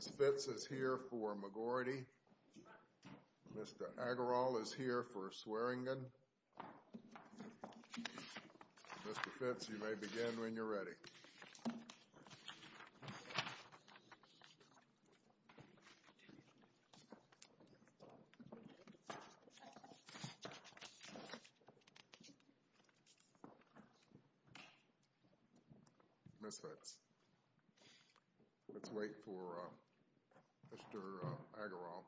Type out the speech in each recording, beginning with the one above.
Ms. Fitz is here for McGroarty Mr. Agarwal is here for Swearingen Mr. Fitz, you may begin when you're ready Ms. Fitz, let's wait for Mr. Agarwal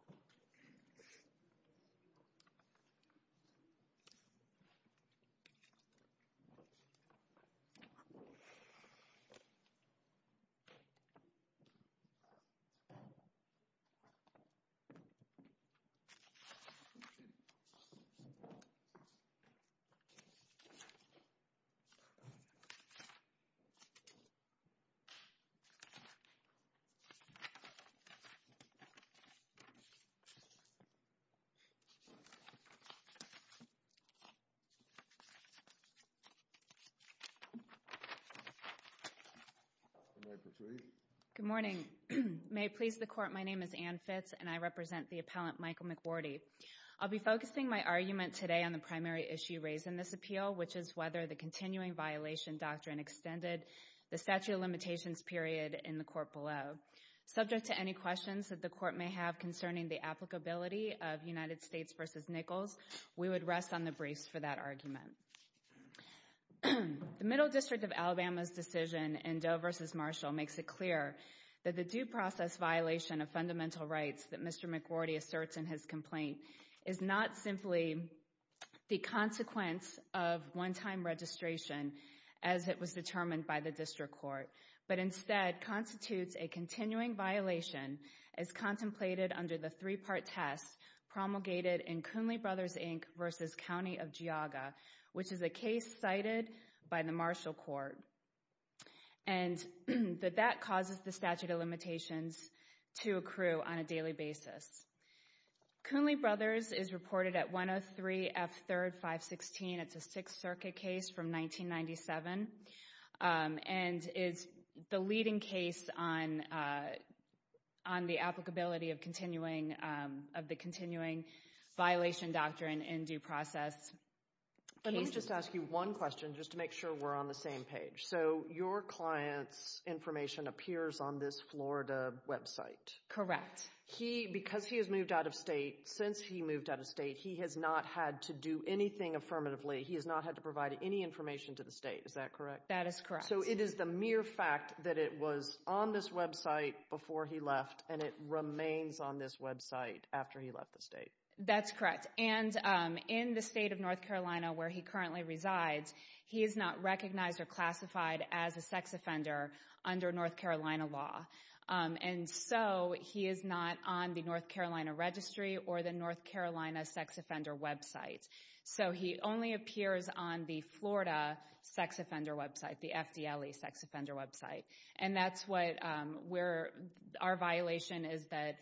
Good morning, may it please the court, my name is Anne Fitz and I represent the appellant Michael McGroarty. I'll be focusing my argument today on the primary issue raised in this appeal, which is whether the continuing violation doctrine extended the statute of limitations period in the court below. Subject to any questions that the court may have concerning the applicability of United States v. Nichols, we would rest on the briefs for that argument. The Middle District of Alabama's decision in Doe v. Marshall makes it clear that the due process violation of fundamental rights that Mr. McGroarty asserts in his complaint is not simply the consequence of one-time registration as it was determined by the district court, but instead constitutes a continuing violation as contemplated under the three-part test promulgated in Kuhnley Brothers Inc. v. County of Geauga, which is a case cited by the Marshall court, and that that causes the statute of limitations to accrue on a daily basis. Kuhnley Brothers is reported at 103 F. 3rd, 516. It's a Sixth Circuit case from 1997 and is the leading case on the applicability of the continuing violation doctrine in due process. Let me just ask you one question just to make sure we're on the same page. So your client's information appears on this Florida website? Correct. Because he has moved out of state, since he moved out of state, he has not had to do anything affirmatively. He has not had to provide any information to the state, is that correct? That is correct. So it is the mere fact that it was on this website before he left and it remains on this website after he left the state? That's correct. And in the state of North Carolina where he currently resides, he is not recognized or classified as a sex offender under North Carolina law. And so he is not on the North Carolina registry or the North Carolina sex offender website. So he only appears on the Florida sex offender website, the FDLE sex offender website. And that's what our violation is that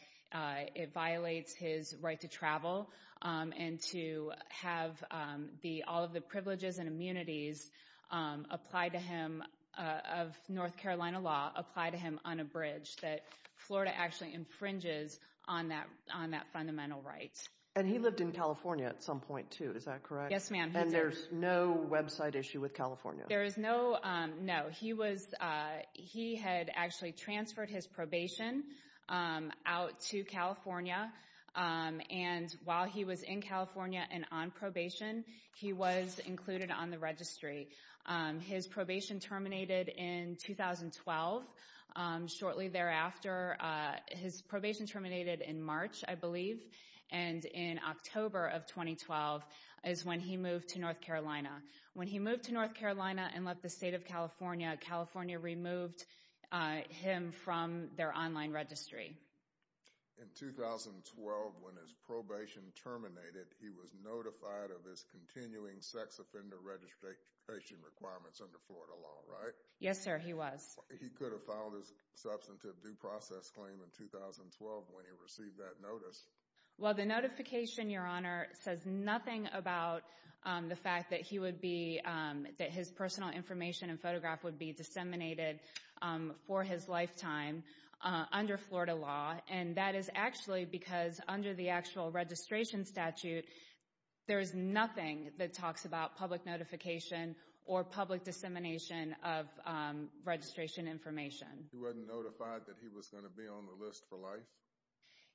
it violates his right to travel and to have all of the coverage that Florida actually infringes on that fundamental right. And he lived in California at some point too, is that correct? Yes ma'am. And there's no website issue with California? There is no, no. He had actually transferred his probation out to California and while he was in California and on probation, he was included on the registry. His probation terminated in 2012, shortly thereafter. His probation terminated in March, I believe, and in October of 2012 is when he moved to North Carolina. When he moved to North Carolina and left the state of California, California removed him from their online registry. In 2012, when his probation terminated, he was notified of his continuing sex offender registration requirements under Florida law, right? Yes, sir. He was. He could have filed his substantive due process claim in 2012 when he received that notice. Well, the notification, Your Honor, says nothing about the fact that he would be, that his personal information and photograph would be disseminated for his lifetime under Florida law. And that is actually because under the actual registration statute, there is nothing that or public dissemination of registration information. He wasn't notified that he was going to be on the list for life?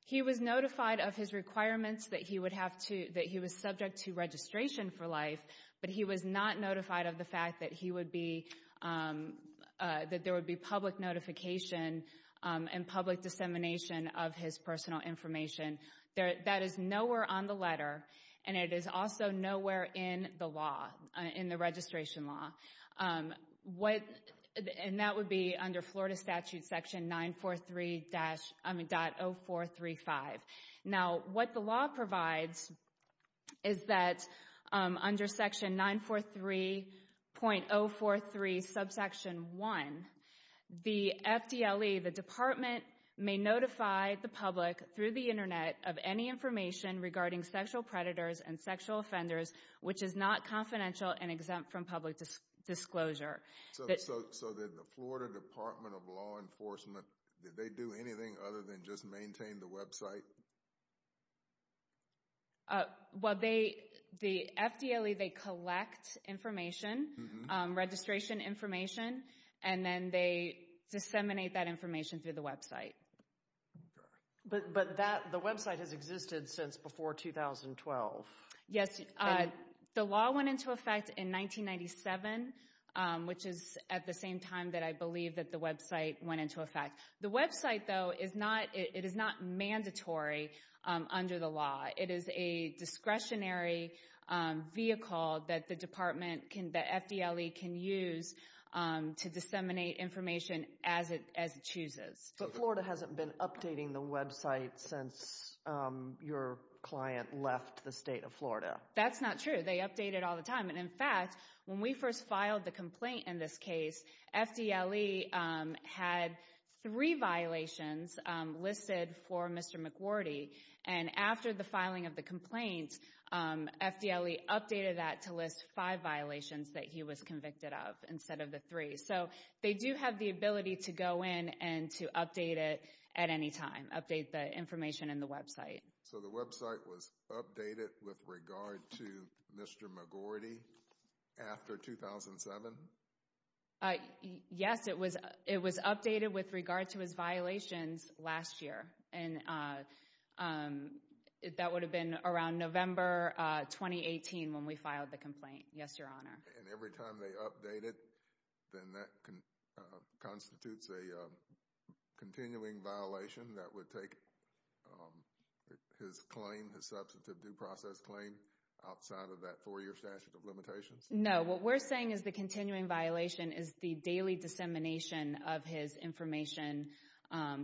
He was notified of his requirements that he would have to, that he was subject to registration for life, but he was not notified of the fact that he would be, that there would be public notification and public dissemination of his personal information. That is nowhere on the letter and it is also nowhere in the law, in the registration law. And that would be under Florida statute section 943.0435. Now what the law provides is that under section 943.043 subsection 1, the FDLE, the department may notify the public through the internet of any information regarding sexual predators and sexual offenders which is not confidential and exempt from public disclosure. So did the Florida Department of Law Enforcement, did they do anything other than just maintain the website? Well, they, the FDLE, they collect information, registration information, and then they disseminate that information through the website. But that, the website has existed since before 2012? Yes, the law went into effect in 1997, which is at the same time that I believe that the website went into effect. The website though is not, it is not mandatory under the law. It is a discretionary vehicle that the department can, that FDLE can use to disseminate information as it chooses. But Florida hasn't been updating the website since your client left the state of Florida? That's not true. They update it all the time. And in fact, when we first filed the complaint in this case, FDLE had three violations listed for Mr. McWherty. And after the filing of the complaint, FDLE updated that to list five violations that he was convicted of instead of the three. So, they do have the ability to go in and to update it at any time, update the information in the website. So, the website was updated with regard to Mr. McWherty after 2007? Yes, it was, it was updated with regard to his violations last year. And that would have been around November 2018 when we filed the complaint, yes, your honor. And every time they update it, then that constitutes a continuing violation that would take his claim, his substantive due process claim, outside of that four-year statute of limitations? No. What we're saying is the continuing violation is the daily dissemination of his information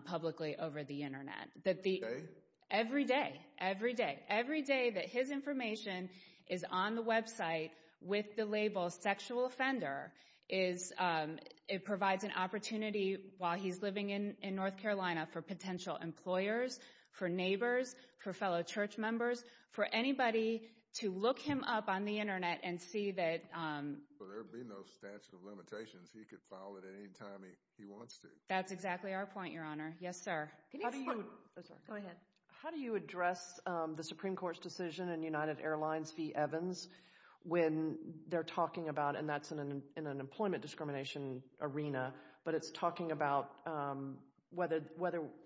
publicly over the internet. Every day? Every day. Every day. So, to say that his information is on the website with the label sexual offender is, it provides an opportunity while he's living in North Carolina for potential employers, for neighbors, for fellow church members, for anybody to look him up on the internet and see that. So, there would be no statute of limitations, he could file it at any time he wants to? That's exactly our point, your honor. Yes, sir. Can you explain? Go ahead. How do you address the Supreme Court's decision in United Airlines v. Evans when they're talking about, and that's in an employment discrimination arena, but it's talking about whether,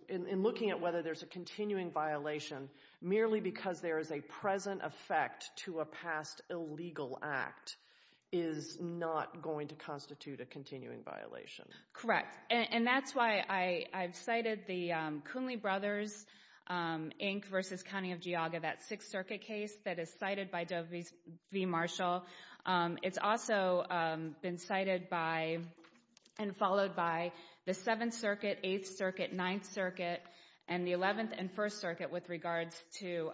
in looking at whether there's a continuing violation, merely because there is a present effect to a past illegal act is not going to constitute a continuing violation? Correct. And that's why I've cited the Coonley Brothers Inc. v. County of Geauga, that Sixth Circuit case that is cited by Dovey Marshall. It's also been cited by and followed by the Seventh Circuit, Eighth Circuit, Ninth Circuit, and the Eleventh and First Circuit with regards to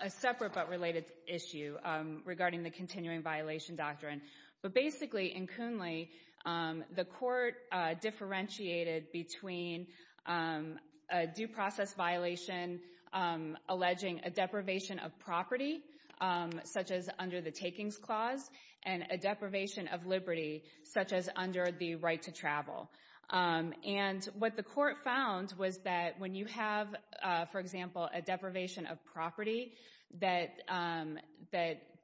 a separate but related issue regarding the continuing violation doctrine. But basically, in Coonley, the court differentiated between a due process violation alleging a deprivation of property, such as under the takings clause, and a deprivation of liberty, such as under the right to travel. And what the court found was that when you have, for example, a deprivation of property, that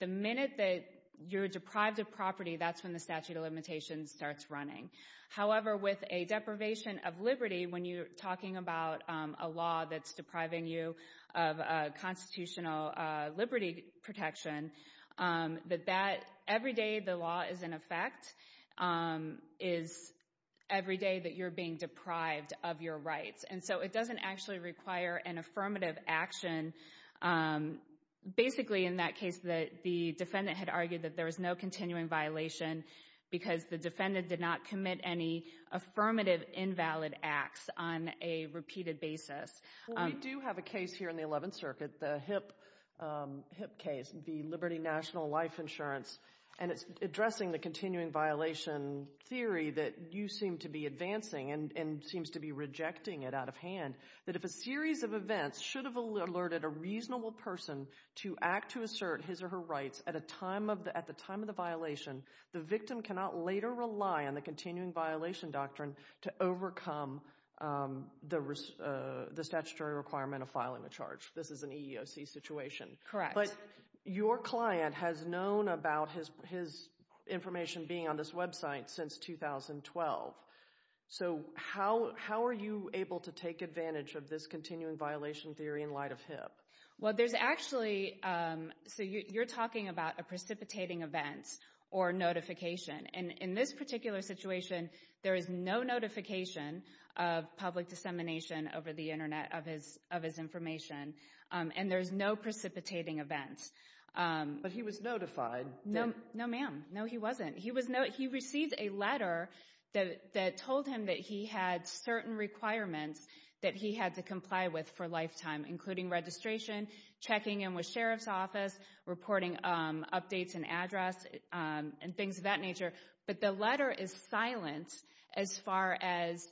the minute that you're deprived of property, that's when the statute of limitations starts running. However, with a deprivation of liberty, when you're talking about a law that's depriving you of constitutional liberty protection, that every day the law is in effect is every day that you're being deprived of your rights. And so it doesn't actually require an affirmative action. Basically, in that case, the defendant had argued that there was no continuing violation because the defendant did not commit any affirmative invalid acts on a repeated basis. We do have a case here in the Eleventh Circuit, the HIP case, the Liberty National Life Insurance, and it's addressing the continuing violation theory that you seem to be advancing and seems to be rejecting it out of hand, that if a series of events should have alerted a reasonable person to act to assert his or her rights at the time of the violation, the victim cannot later rely on the continuing violation doctrine to overcome the statutory requirement of filing a charge. This is an EEOC situation. Correct. But your client has known about his information being on this website since 2012. So how are you able to take advantage of this continuing violation theory in light of HIP? Well, there's actually, so you're talking about a precipitating event or notification. And in this particular situation, there is no notification of public dissemination over the Internet of his information, and there's no precipitating events. But he was notified. No, ma'am. No, he wasn't. He received a letter that told him that he had certain requirements that he had to comply with for a lifetime, including registration, checking in with Sheriff's Office, reporting updates and address, and things of that nature. But the letter is silent as far as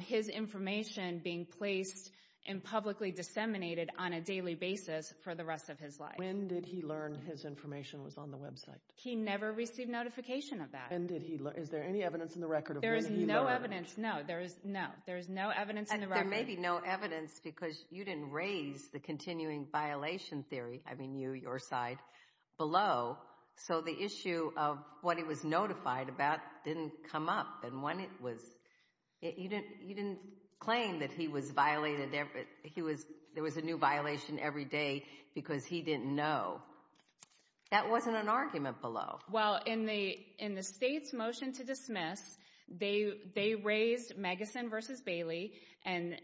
his information being placed and publicly disseminated on a daily basis for the rest of his life. When did he learn his information was on the website? He never received notification of that. And did he? Is there any evidence in the record? There is no evidence. No, there is no. There's no evidence in the record. And there may be no evidence because you didn't raise the continuing violation theory, I mean you, your side, below. So the issue of what he was notified about didn't come up. And when it was, you didn't claim that he was violated, he was, there was a new violation every day because he didn't know. That wasn't an argument below. Well, in the, in the state's motion to dismiss, they, they raised Maguson v. Bailey and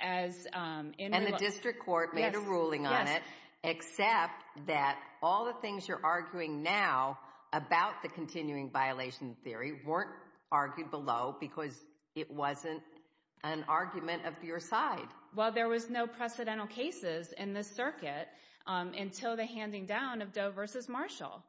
as And the district court made a ruling on it, except that all the things you're arguing now about the continuing violation theory weren't argued below because it wasn't an argument of your side. Well, there was no precedental cases in this circuit until the handing down of Doe v. Marshall.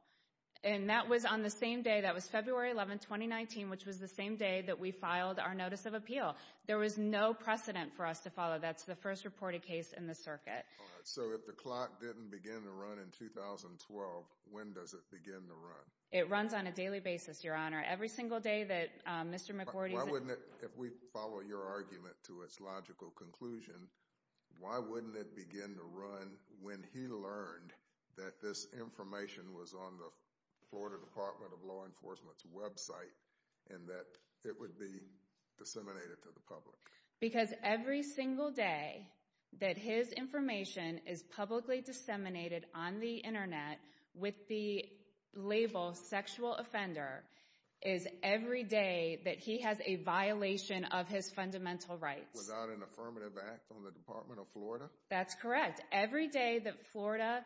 And that was on the same day, that was February 11, 2019, which was the same day that we filed our notice of appeal. There was no precedent for us to follow. That's the first reported case in the circuit. So if the clock didn't begin to run in 2012, when does it begin to run? It runs on a daily basis, Your Honor. Every single day that Mr. McGordy's Why wouldn't it, if we follow your argument to its logical conclusion, why wouldn't it begin to run when he learned that this information was on the Florida Department of Law Enforcement's website and that it would be disseminated to the public? Because every single day that his information is publicly disseminated on the internet with the label sexual offender is every day that he has a violation of his fundamental rights. Without an affirmative act on the Department of Florida? That's correct. Every day that Florida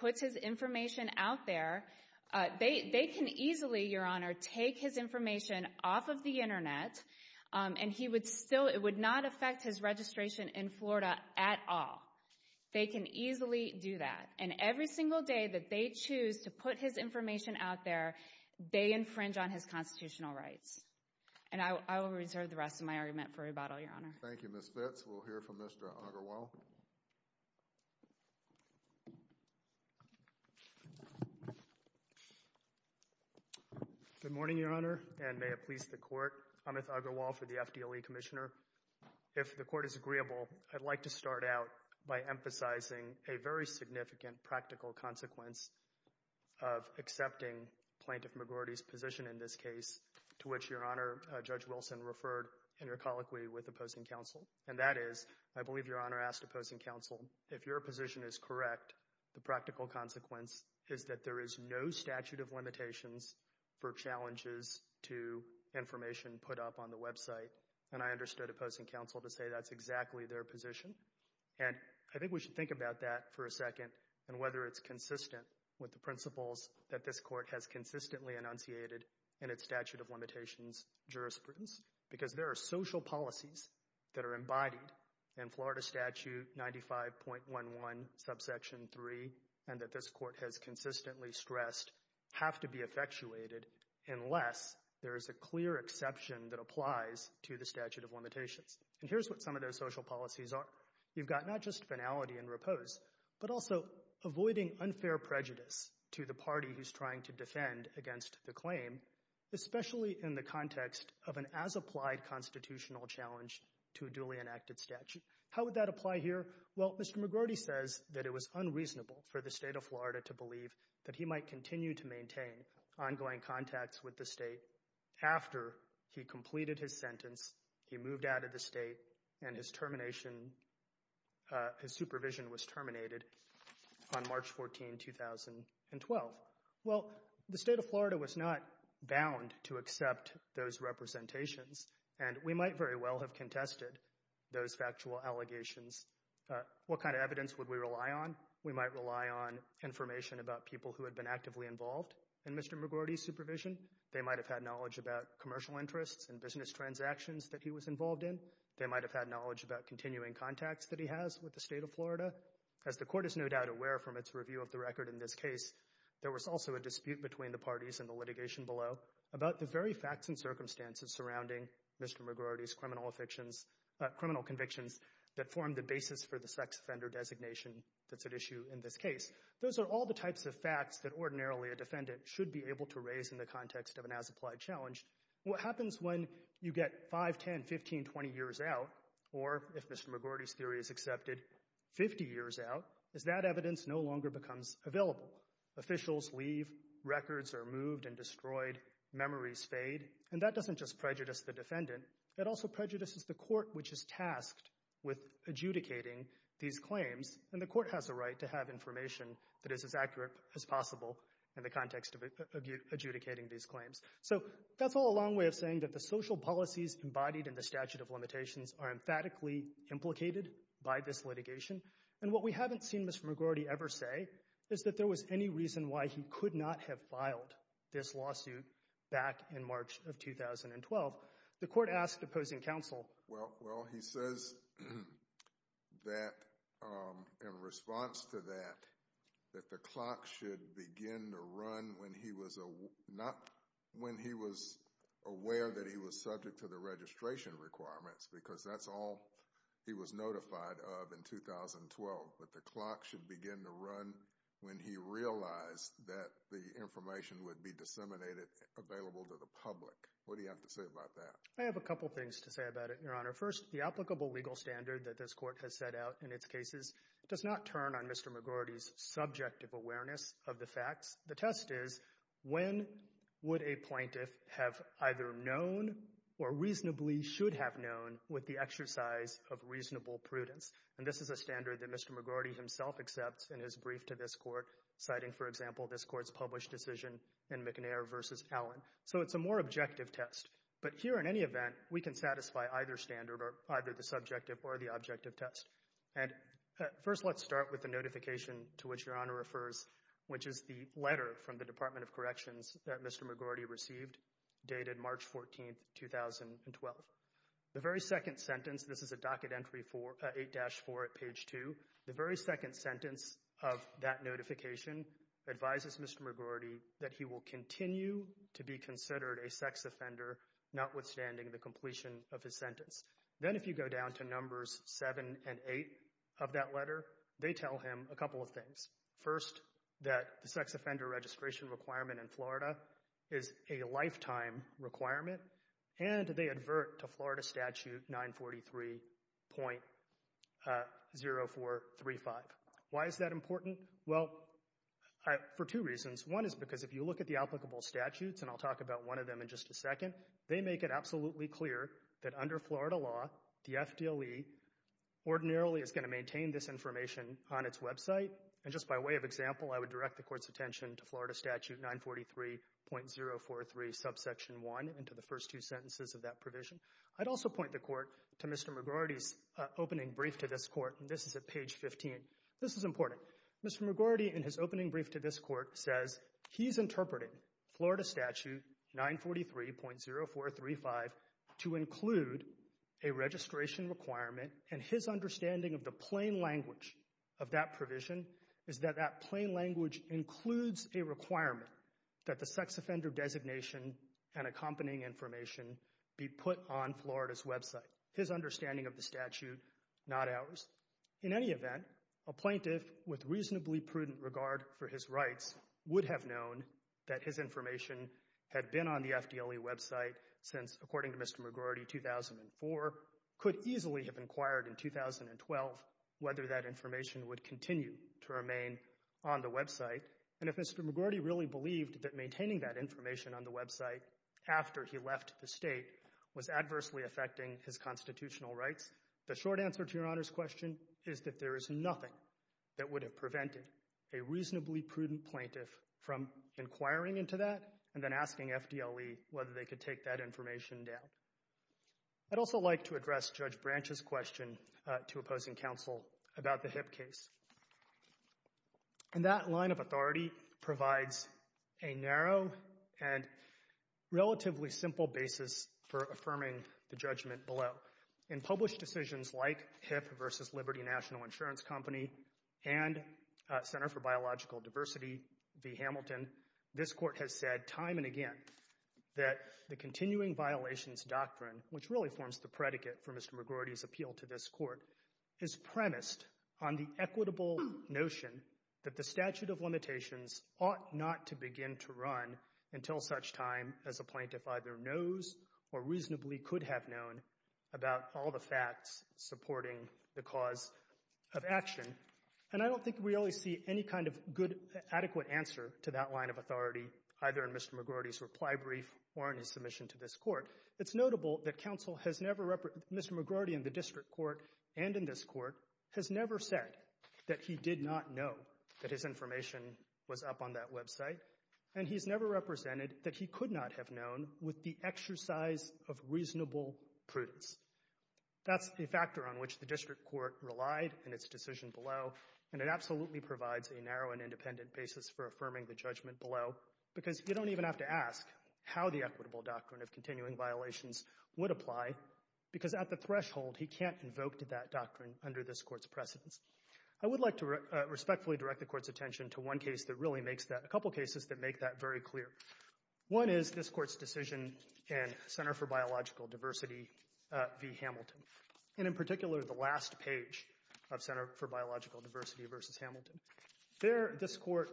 puts his information out there, they can easily, Your Honor, take his information off of the internet and he would still, it would not affect his registration in Florida at all. They can easily do that. And every single day that they choose to put his information out there, they infringe on his constitutional rights. And I will reserve the rest of my argument for rebuttal, Your Honor. Thank you, Ms. Fitts. We'll hear from Mr. Uggerwall. Good morning, Your Honor, and may it please the Court. Amit Uggerwall for the FDLE Commissioner. If the Court is agreeable, I'd like to start out by emphasizing a very significant practical consequence of accepting Plaintiff McGordy's position in this case, to which Your Honor, Judge Wilson, referred in your colloquy with opposing counsel, and that is, I believe Your Honor asked opposing counsel, if your position is correct, the practical consequence is that there is no statute of limitations for challenges to information put up on the website. And I understood opposing counsel to say that's exactly their position. And I think we should think about that for a second and whether it's consistent with the principles that this Court has consistently enunciated in its statute of limitations jurisprudence. Because there are social policies that are embodied in Florida Statute 95.11, Subsection 3, and that this Court has consistently stressed have to be effectuated unless there is a clear exception that applies to the statute of limitations. And here's what some of those social policies are. You've got not just finality and repose, but also avoiding unfair prejudice to the party who's trying to defend against the claim, especially in the context of an as-applied constitutional challenge to a duly enacted statute. How would that apply here? Well, Mr. McGordy says that it was unreasonable for the State of Florida to believe that he might continue to maintain ongoing contacts with the State after he completed his sentence, he moved out of the State, and his termination, his supervision was terminated on March 14, 2012. Well, the State of Florida was not bound to accept those representations, and we might very well have contested those factual allegations. What kind of evidence would we rely on? We might rely on information about people who had been actively involved in Mr. McGordy's supervision. They might have had knowledge about commercial interests and business transactions that he was involved in. They might have had knowledge about continuing contacts that he has with the State of Florida. As the Court is no doubt aware from its review of the record in this case, there was also a dispute between the parties in the litigation below about the very facts and circumstances surrounding Mr. McGordy's criminal convictions that formed the basis for the sex offender designation that's at issue in this case. Those are all the types of facts that ordinarily a defendant should be able to raise in the context of an as-applied challenge. What happens when you get 5, 10, 15, 20 years out, or if Mr. McGordy's theory is accepted, 50 years out, is that evidence no longer becomes available. Officials leave, records are moved and destroyed, memories fade, and that doesn't just prejudice the defendant. It also prejudices the Court, which is tasked with adjudicating these claims, and the Court has a right to have information that is as accurate as possible in the context of adjudicating these claims. So, that's all a long way of saying that the social policies embodied in the statute of limitations are emphatically implicated by this litigation, and what we haven't seen Mr. McGordy ever say is that there was any reason why he could not have filed this lawsuit back in March of 2012. The Court asked opposing counsel... Well, he says that in response to that, that the clock should begin to run when he was aware that he was subject to the registration requirements, because that's all he was notified of in 2012, but the clock should begin to run when he realized that the information would be disseminated, available to the public. What do you have to say about that? I have a couple things to say about it, Your Honor. First, the applicable legal standard that this Court has set out in its cases does not turn on Mr. McGordy's subjective awareness of the facts. The test is, when would a plaintiff have either known or reasonably should have known with the exercise of reasonable prudence? And this is a standard that Mr. McGordy himself accepts in his brief to this Court, citing, for example, this Court's published decision in McNair v. Allen. So, it's a more objective test, but here, in any event, we can satisfy either standard or either the subjective or the objective test. And first, let's start with the notification to which Your Honor refers, which is the letter from the Department of Corrections that Mr. McGordy received, dated March 14, 2012. The very second sentence, this is a docket entry for 8-4 at page 2, the very second sentence of that notification advises Mr. McGordy that he will continue to be considered a sex offender, notwithstanding the completion of his sentence. Then, if you go down to numbers 7 and 8 of that letter, they tell him a couple of things. First, that the sex offender registration requirement in Florida is a lifetime requirement, and they advert to Florida Statute 943.0435. Why is that important? Well, for two reasons. One is because if you look at the applicable statutes, and I'll talk about one of them in just a second, they make it absolutely clear that under Florida law, the FDLE ordinarily is going to maintain this information on its website, and just by way of example, I would direct the Court's attention to Florida Statute 943.043, subsection 1, and to the first two sentences of that provision. I'd also point the Court to Mr. McGordy's opening brief to this Court, and this is at page 15. This is important. Mr. McGordy, in his opening brief to this Court, says he's interpreting Florida Statute 943.0435 to include a registration requirement, and his understanding of the plain language of that provision is that that plain language includes a requirement that the sex offender designation and accompanying information be put on Florida's website. His understanding of the statute, not ours. In any event, a plaintiff with reasonably prudent regard for his rights would have known that his information had been on the FDLE website since, according to Mr. McGordy, 2004, could easily have inquired in 2012 whether that information would continue to remain on the website, and if Mr. McGordy really believed that maintaining that information on the website after he left the state was adversely affecting his constitutional rights, the short answer to Your Honor's question is that there is nothing that would have prevented a reasonably prudent plaintiff from inquiring into that and then asking FDLE whether they could take that information down. I'd also like to address Judge Branch's question to opposing counsel about the HIP case, and that line of authority provides a narrow and relatively simple basis for affirming the judgment below. In published decisions like HIP versus Liberty National Insurance Company and Center for Biological Diversity v. Hamilton, this Court has said time and again that the continuing violations doctrine, which really forms the predicate for Mr. McGordy's appeal to this Court, is premised on the equitable notion that the statute of limitations ought not to begin to run until such time as a plaintiff either knows or reasonably could have known about all the facts supporting the cause of action. And I don't think we always see any kind of good, adequate answer to that line of authority, either in Mr. McGordy's reply brief or in his submission to this Court. It's notable that counsel has never, Mr. McGordy in the District Court and in this Court, has never said that he did not know that his information was up on that website, and he's never represented that he could not have known with the exercise of reasonable prudence. That's a factor on which the District Court relied in its decision below, and it absolutely provides a narrow and independent basis for affirming the judgment below because you don't even have to ask how the equitable doctrine of continuing violations would apply because at the threshold, he can't invoke to that doctrine under this Court's precedence. I would like to respectfully direct the Court's attention to one case that really makes that, a couple cases that make that very clear. One is this Court's decision in Center for Biological Diversity v. Hamilton, and in particular, the last page of Center for Biological Diversity v. Hamilton. There, this Court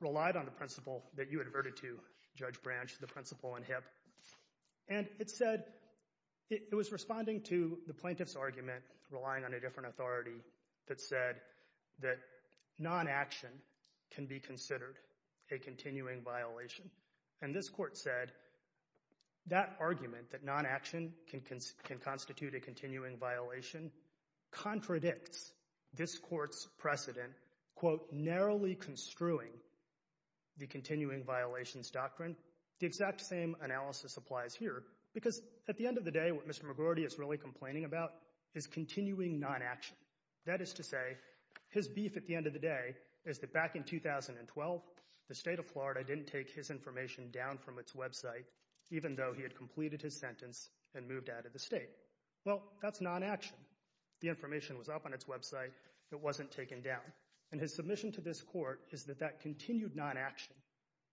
relied on the principle that you adverted to, Judge Branch, the principle in HIP, and it said, it was responding to the plaintiff's argument, relying on a different authority that said that non-action can be considered a continuing violation. And this Court said that argument, that non-action can constitute a continuing violation, contradicts this Court's precedent, quote, narrowly construing the continuing violations doctrine. The exact same analysis applies here because at the end of the day, what Mr. McGordy is really complaining about is continuing non-action. That is to say, his beef at the end of the day is that back in 2012, the state of Florida didn't take his information down from its website, even though he had completed his sentence and moved out of the state. Well, that's non-action. The information was up on its website. It wasn't taken down. And his submission to this Court is that that continued non-action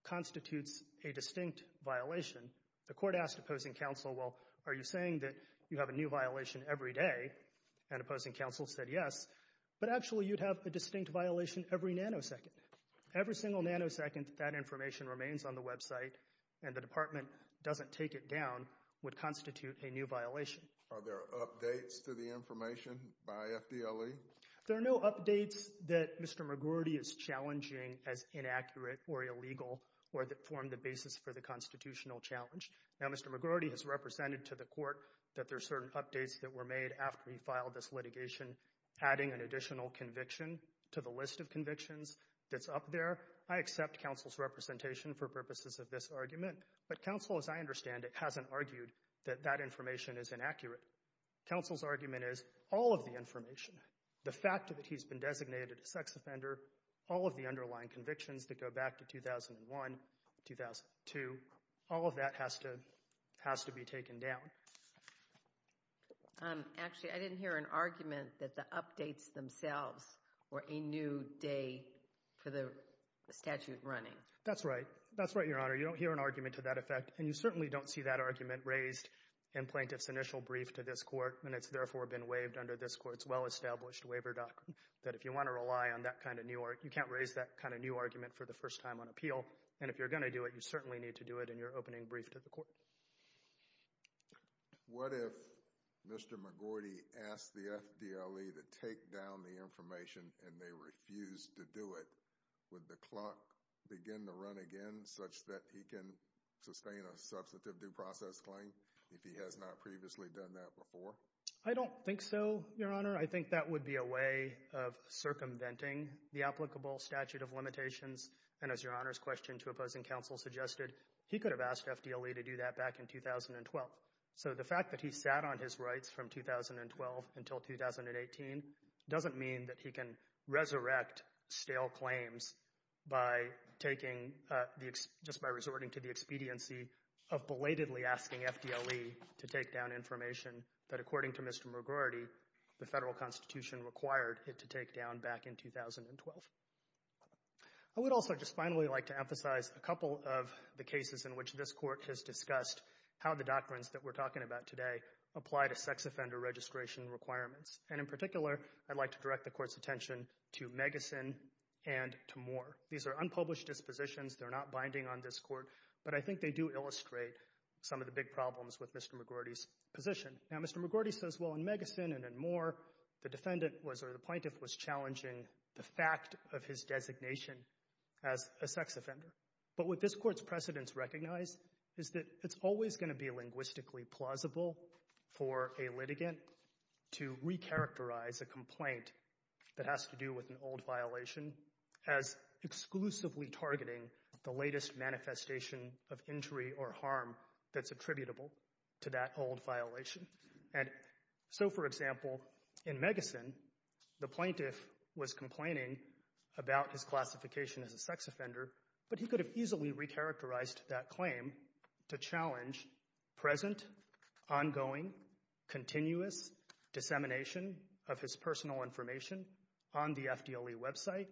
constitutes a distinct violation. The Court asked opposing counsel, well, are you saying that you have a new violation every day? And opposing counsel said yes, but actually you'd have a distinct violation every nanosecond. Every single nanosecond that information remains on the website and the Department doesn't take it down would constitute a new violation. Are there updates to the information by FDLE? There are no updates that Mr. McGordy is challenging as inaccurate or illegal or that form the basis for the constitutional challenge. Now, Mr. McGordy has represented to the Court that there are certain updates that were made after he filed this litigation, adding an additional conviction to the list of convictions that's up there. I accept counsel's representation for purposes of this argument, but counsel, as I understand it, hasn't argued that that information is inaccurate. Counsel's argument is all of the information, the fact that he's been designated a sex offender, all of the underlying convictions that go back to 2001, 2002, all of that has to be taken down. Actually, I didn't hear an argument that the updates themselves were a new day for the statute running. That's right. That's right, Your Honor. You don't hear an argument to that effect, and you certainly don't see that argument raised in plaintiff's initial brief to this Court, and it's therefore been waived under this Court's well-established waiver doctrine, that if you want to rely on that kind of new argument, you can't raise that kind of new argument for the first time on appeal, and if you're going to do it, you certainly need to do it in your opening brief to the Court. What if Mr. McGordy asked the FDLE to take down the information and they refused to do it? Would the clock begin to run again such that he can sustain a substantive due process claim if he has not previously done that before? I don't think so, Your Honor. I think that would be a way of circumventing the applicable statute of limitations, and as Your Honor's question to opposing counsel suggested, he could have asked FDLE to do that back in 2012. So the fact that he sat on his rights from 2012 until 2018 doesn't mean that he can resurrect stale claims just by resorting to the expediency of belatedly asking FDLE to take down information that, according to Mr. McGordy, the federal constitution required it to take down back in 2012. I would also just finally like to emphasize a couple of the cases in which this Court has discussed how the doctrines that we're talking about today apply to sex offender registration requirements, and in particular, I'd like to direct the Court's attention to Megasin and to Moore. These are unpublished dispositions. They're not binding on this Court, but I think they do illustrate some of the big problems with Mr. McGordy's position. Now, Mr. McGordy says, well, in Megasin and in Moore, the defendant was or the plaintiff was challenging the fact of his designation as a sex offender. But what this Court's precedents recognize is that it's always going to be linguistically plausible for a litigant to recharacterize a complaint that has to do with an old violation as exclusively targeting the latest manifestation of injury or harm that's attributable to that old violation. And so, for example, in Megasin, the plaintiff was complaining about his classification as a sex offender, but he could have easily recharacterized that claim to challenge present, ongoing, continuous dissemination of his personal information on the FDLE website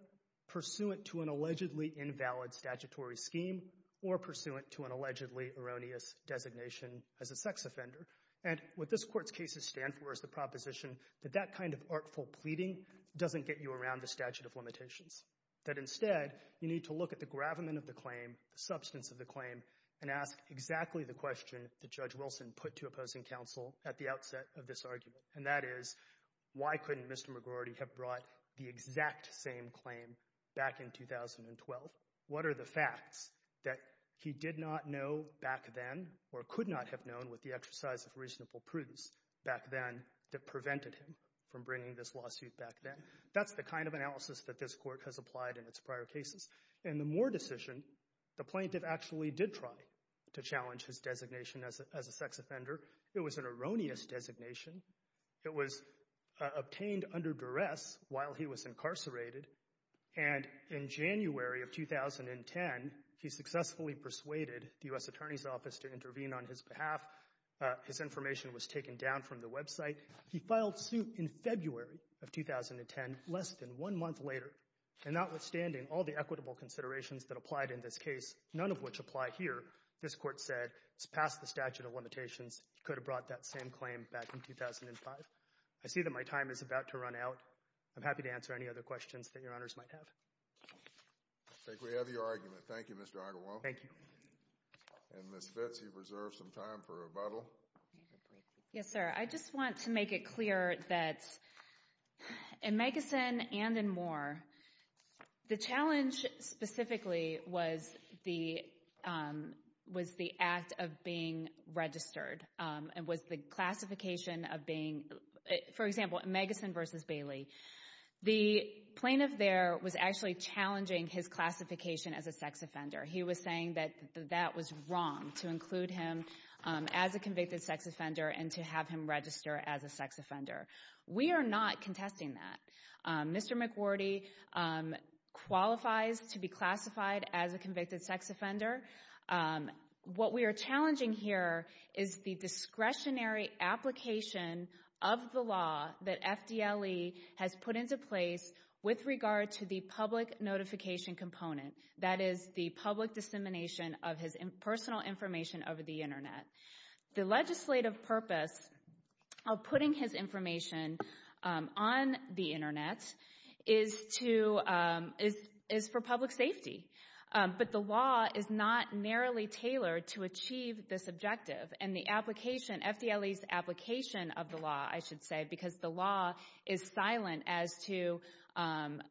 pursuant to an allegedly invalid statutory scheme or pursuant to an allegedly erroneous designation as a sex offender. And what this Court's cases stand for is the proposition that that kind of artful pleading doesn't get you around the statute of limitations. That instead, you need to look at the gravamen of the claim, the substance of the claim, and ask exactly the question that Judge Wilson put to opposing counsel at the outset of this argument. And that is, why couldn't Mr. McGordy have brought the exact same claim back in 2012? What are the facts that he did not know back then, or could not have known with the exercise of reasonable prudence back then, that prevented him from bringing this lawsuit back then? That's the kind of analysis that this Court has applied in its prior cases. In the Moore decision, the plaintiff actually did try to challenge his designation as a sex offender. It was an erroneous designation. It was obtained under duress while he was incarcerated. And in January of 2010, he successfully persuaded the U.S. Attorney's Office to intervene on his behalf. His information was taken down from the website. He filed suit in February of 2010, less than one month later. And notwithstanding all the equitable considerations that applied in this case, none of which apply here, this Court said it's past the statute of limitations. He could have brought that same claim back in 2005. I see that my time is about to run out. I'm happy to answer any other questions that your honors might have. I think we have your argument. Thank you, Mr. Ogglewam. Thank you. And Ms. Fitz, you've reserved some time for rebuttal. Yes, sir. I just want to make it clear that in Megasin and in Moore, the challenge specifically was the act of being registered. It was the classification of being, for example, Megasin versus Bailey. The plaintiff there was actually challenging his classification as a sex offender. He was saying that that was wrong to include him as a convicted sex offender and to have him register as a sex offender. We are not contesting that. Mr. McWherty qualifies to be classified as a convicted sex offender. What we are challenging here is the discretionary application of the law that FDLE has put into place with regard to the public notification component. That is the public dissemination of his personal information over the internet. The legislative purpose of putting his information on the internet is for public safety. But the law is not narrowly tailored to achieve this objective. And the application, FDLE's application of the law, I should say, because the law is silent as to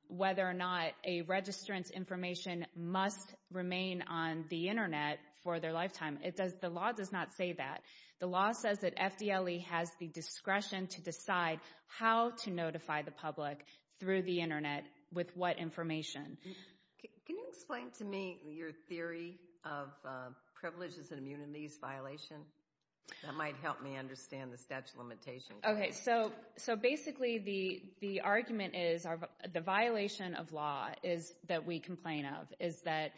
whether or not a registrant's information must remain on the internet for their lifetime. It does, the law does not say that. The law says that FDLE has the discretion to decide how to notify the public through the internet with what information. Can you explain to me your theory of privileges and immunities violation? That might help me understand the statute of limitations. Okay, so basically the argument is the violation of law is that we complain of is that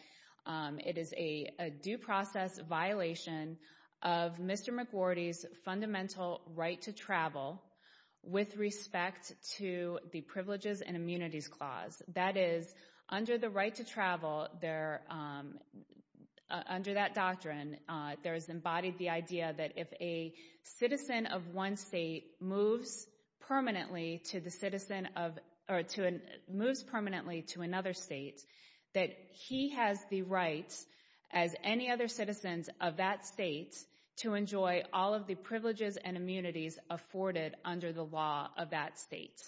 it is a due process violation of Mr. McWherty's fundamental right to travel with respect to the privileges and immunities clause. That is, under the right to travel, under that doctrine, there is embodied the idea that if a citizen of one state moves permanently to another state, that he has the right as any other citizens of that state to enjoy all of the privileges and immunities afforded under the law of that state.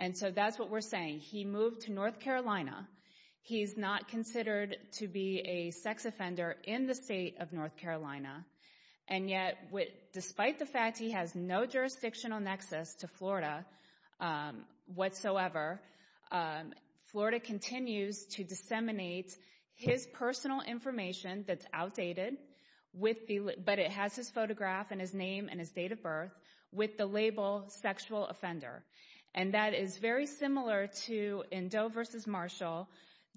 And so that's what we're saying. He moved to North Carolina. He's not considered to be a sex offender in the state of North Carolina. And yet, despite the fact he has no jurisdictional nexus to Florida whatsoever, Florida continues to disseminate his personal information that's outdated, but it has his photograph and his name and his date of birth with the label sexual offender. And that is very similar to in Doe versus Marshall,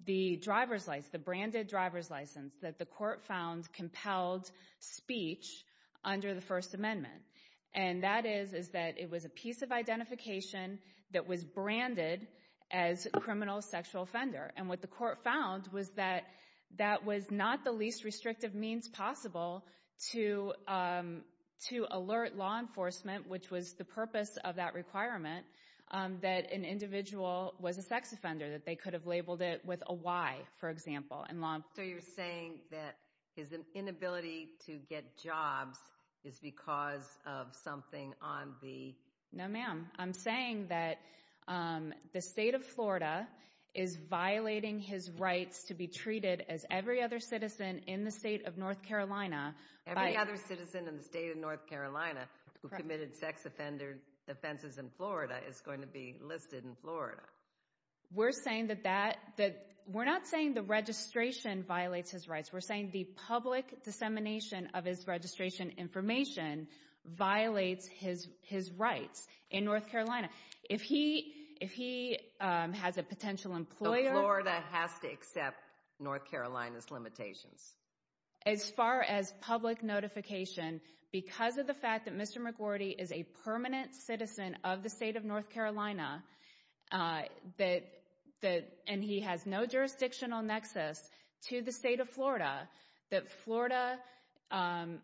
the driver's license, the branded driver's license that the court found compelled speech under the First Amendment. And that is, is that it was a piece of identification that was branded as a criminal sexual offender. And what the court found was that that was not the least restrictive means possible to to alert law enforcement, which was the purpose of that requirement, that an individual was a sex offender, that they could have labeled it with a Y, for example, in law. So you're saying that his inability to get jobs is because of something on the. No, ma'am, I'm saying that the state of Florida is violating his rights to be treated as every other citizen in the state of North Carolina. Every other citizen in the state of North Carolina who committed sex offender offenses in Florida is going to be listed in Florida. We're saying that that that we're not saying the registration violates his rights. We're saying the public dissemination of his registration information violates his his rights in North Carolina. If he if he has a potential employer that has to accept North Carolina's limitations as far as public notification because of the fact that Mr. McGordy is a permanent citizen of the state of North Carolina, that that and he has no jurisdictional nexus to the state of Florida, that Florida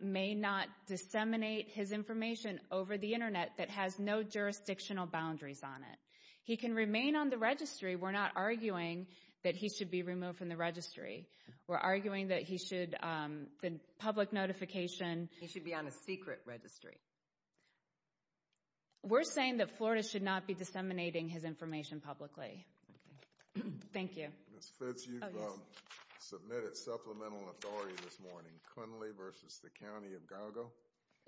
may not disseminate his information over the Internet. That has no jurisdictional boundaries on it. He can remain on the registry. We're not arguing that he should be removed from the registry. We're arguing that he should the public notification. He should be on a secret registry. We're saying that Florida should not be disseminating his information publicly. Thank you. Ms. Fitts, you've submitted supplemental authority this morning, Cunley versus the County of Gago?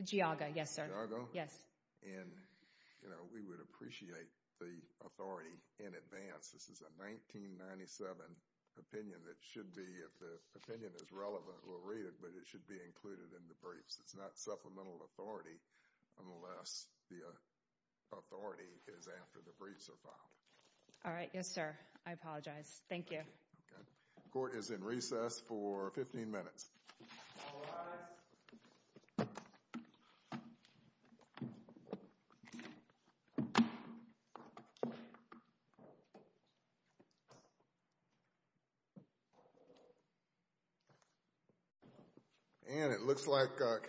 Geauga, yes, sir. And, you know, we would appreciate the authority in advance. This is a 1997 opinion that should be, if the opinion is relevant, we'll read it, but it should be included in the briefs. It's not supplemental authority unless the authority is after the briefs are filed. All right, yes, sir. I apologize. Thank you. Court is in recess for 15 minutes. All rise. And it looks like...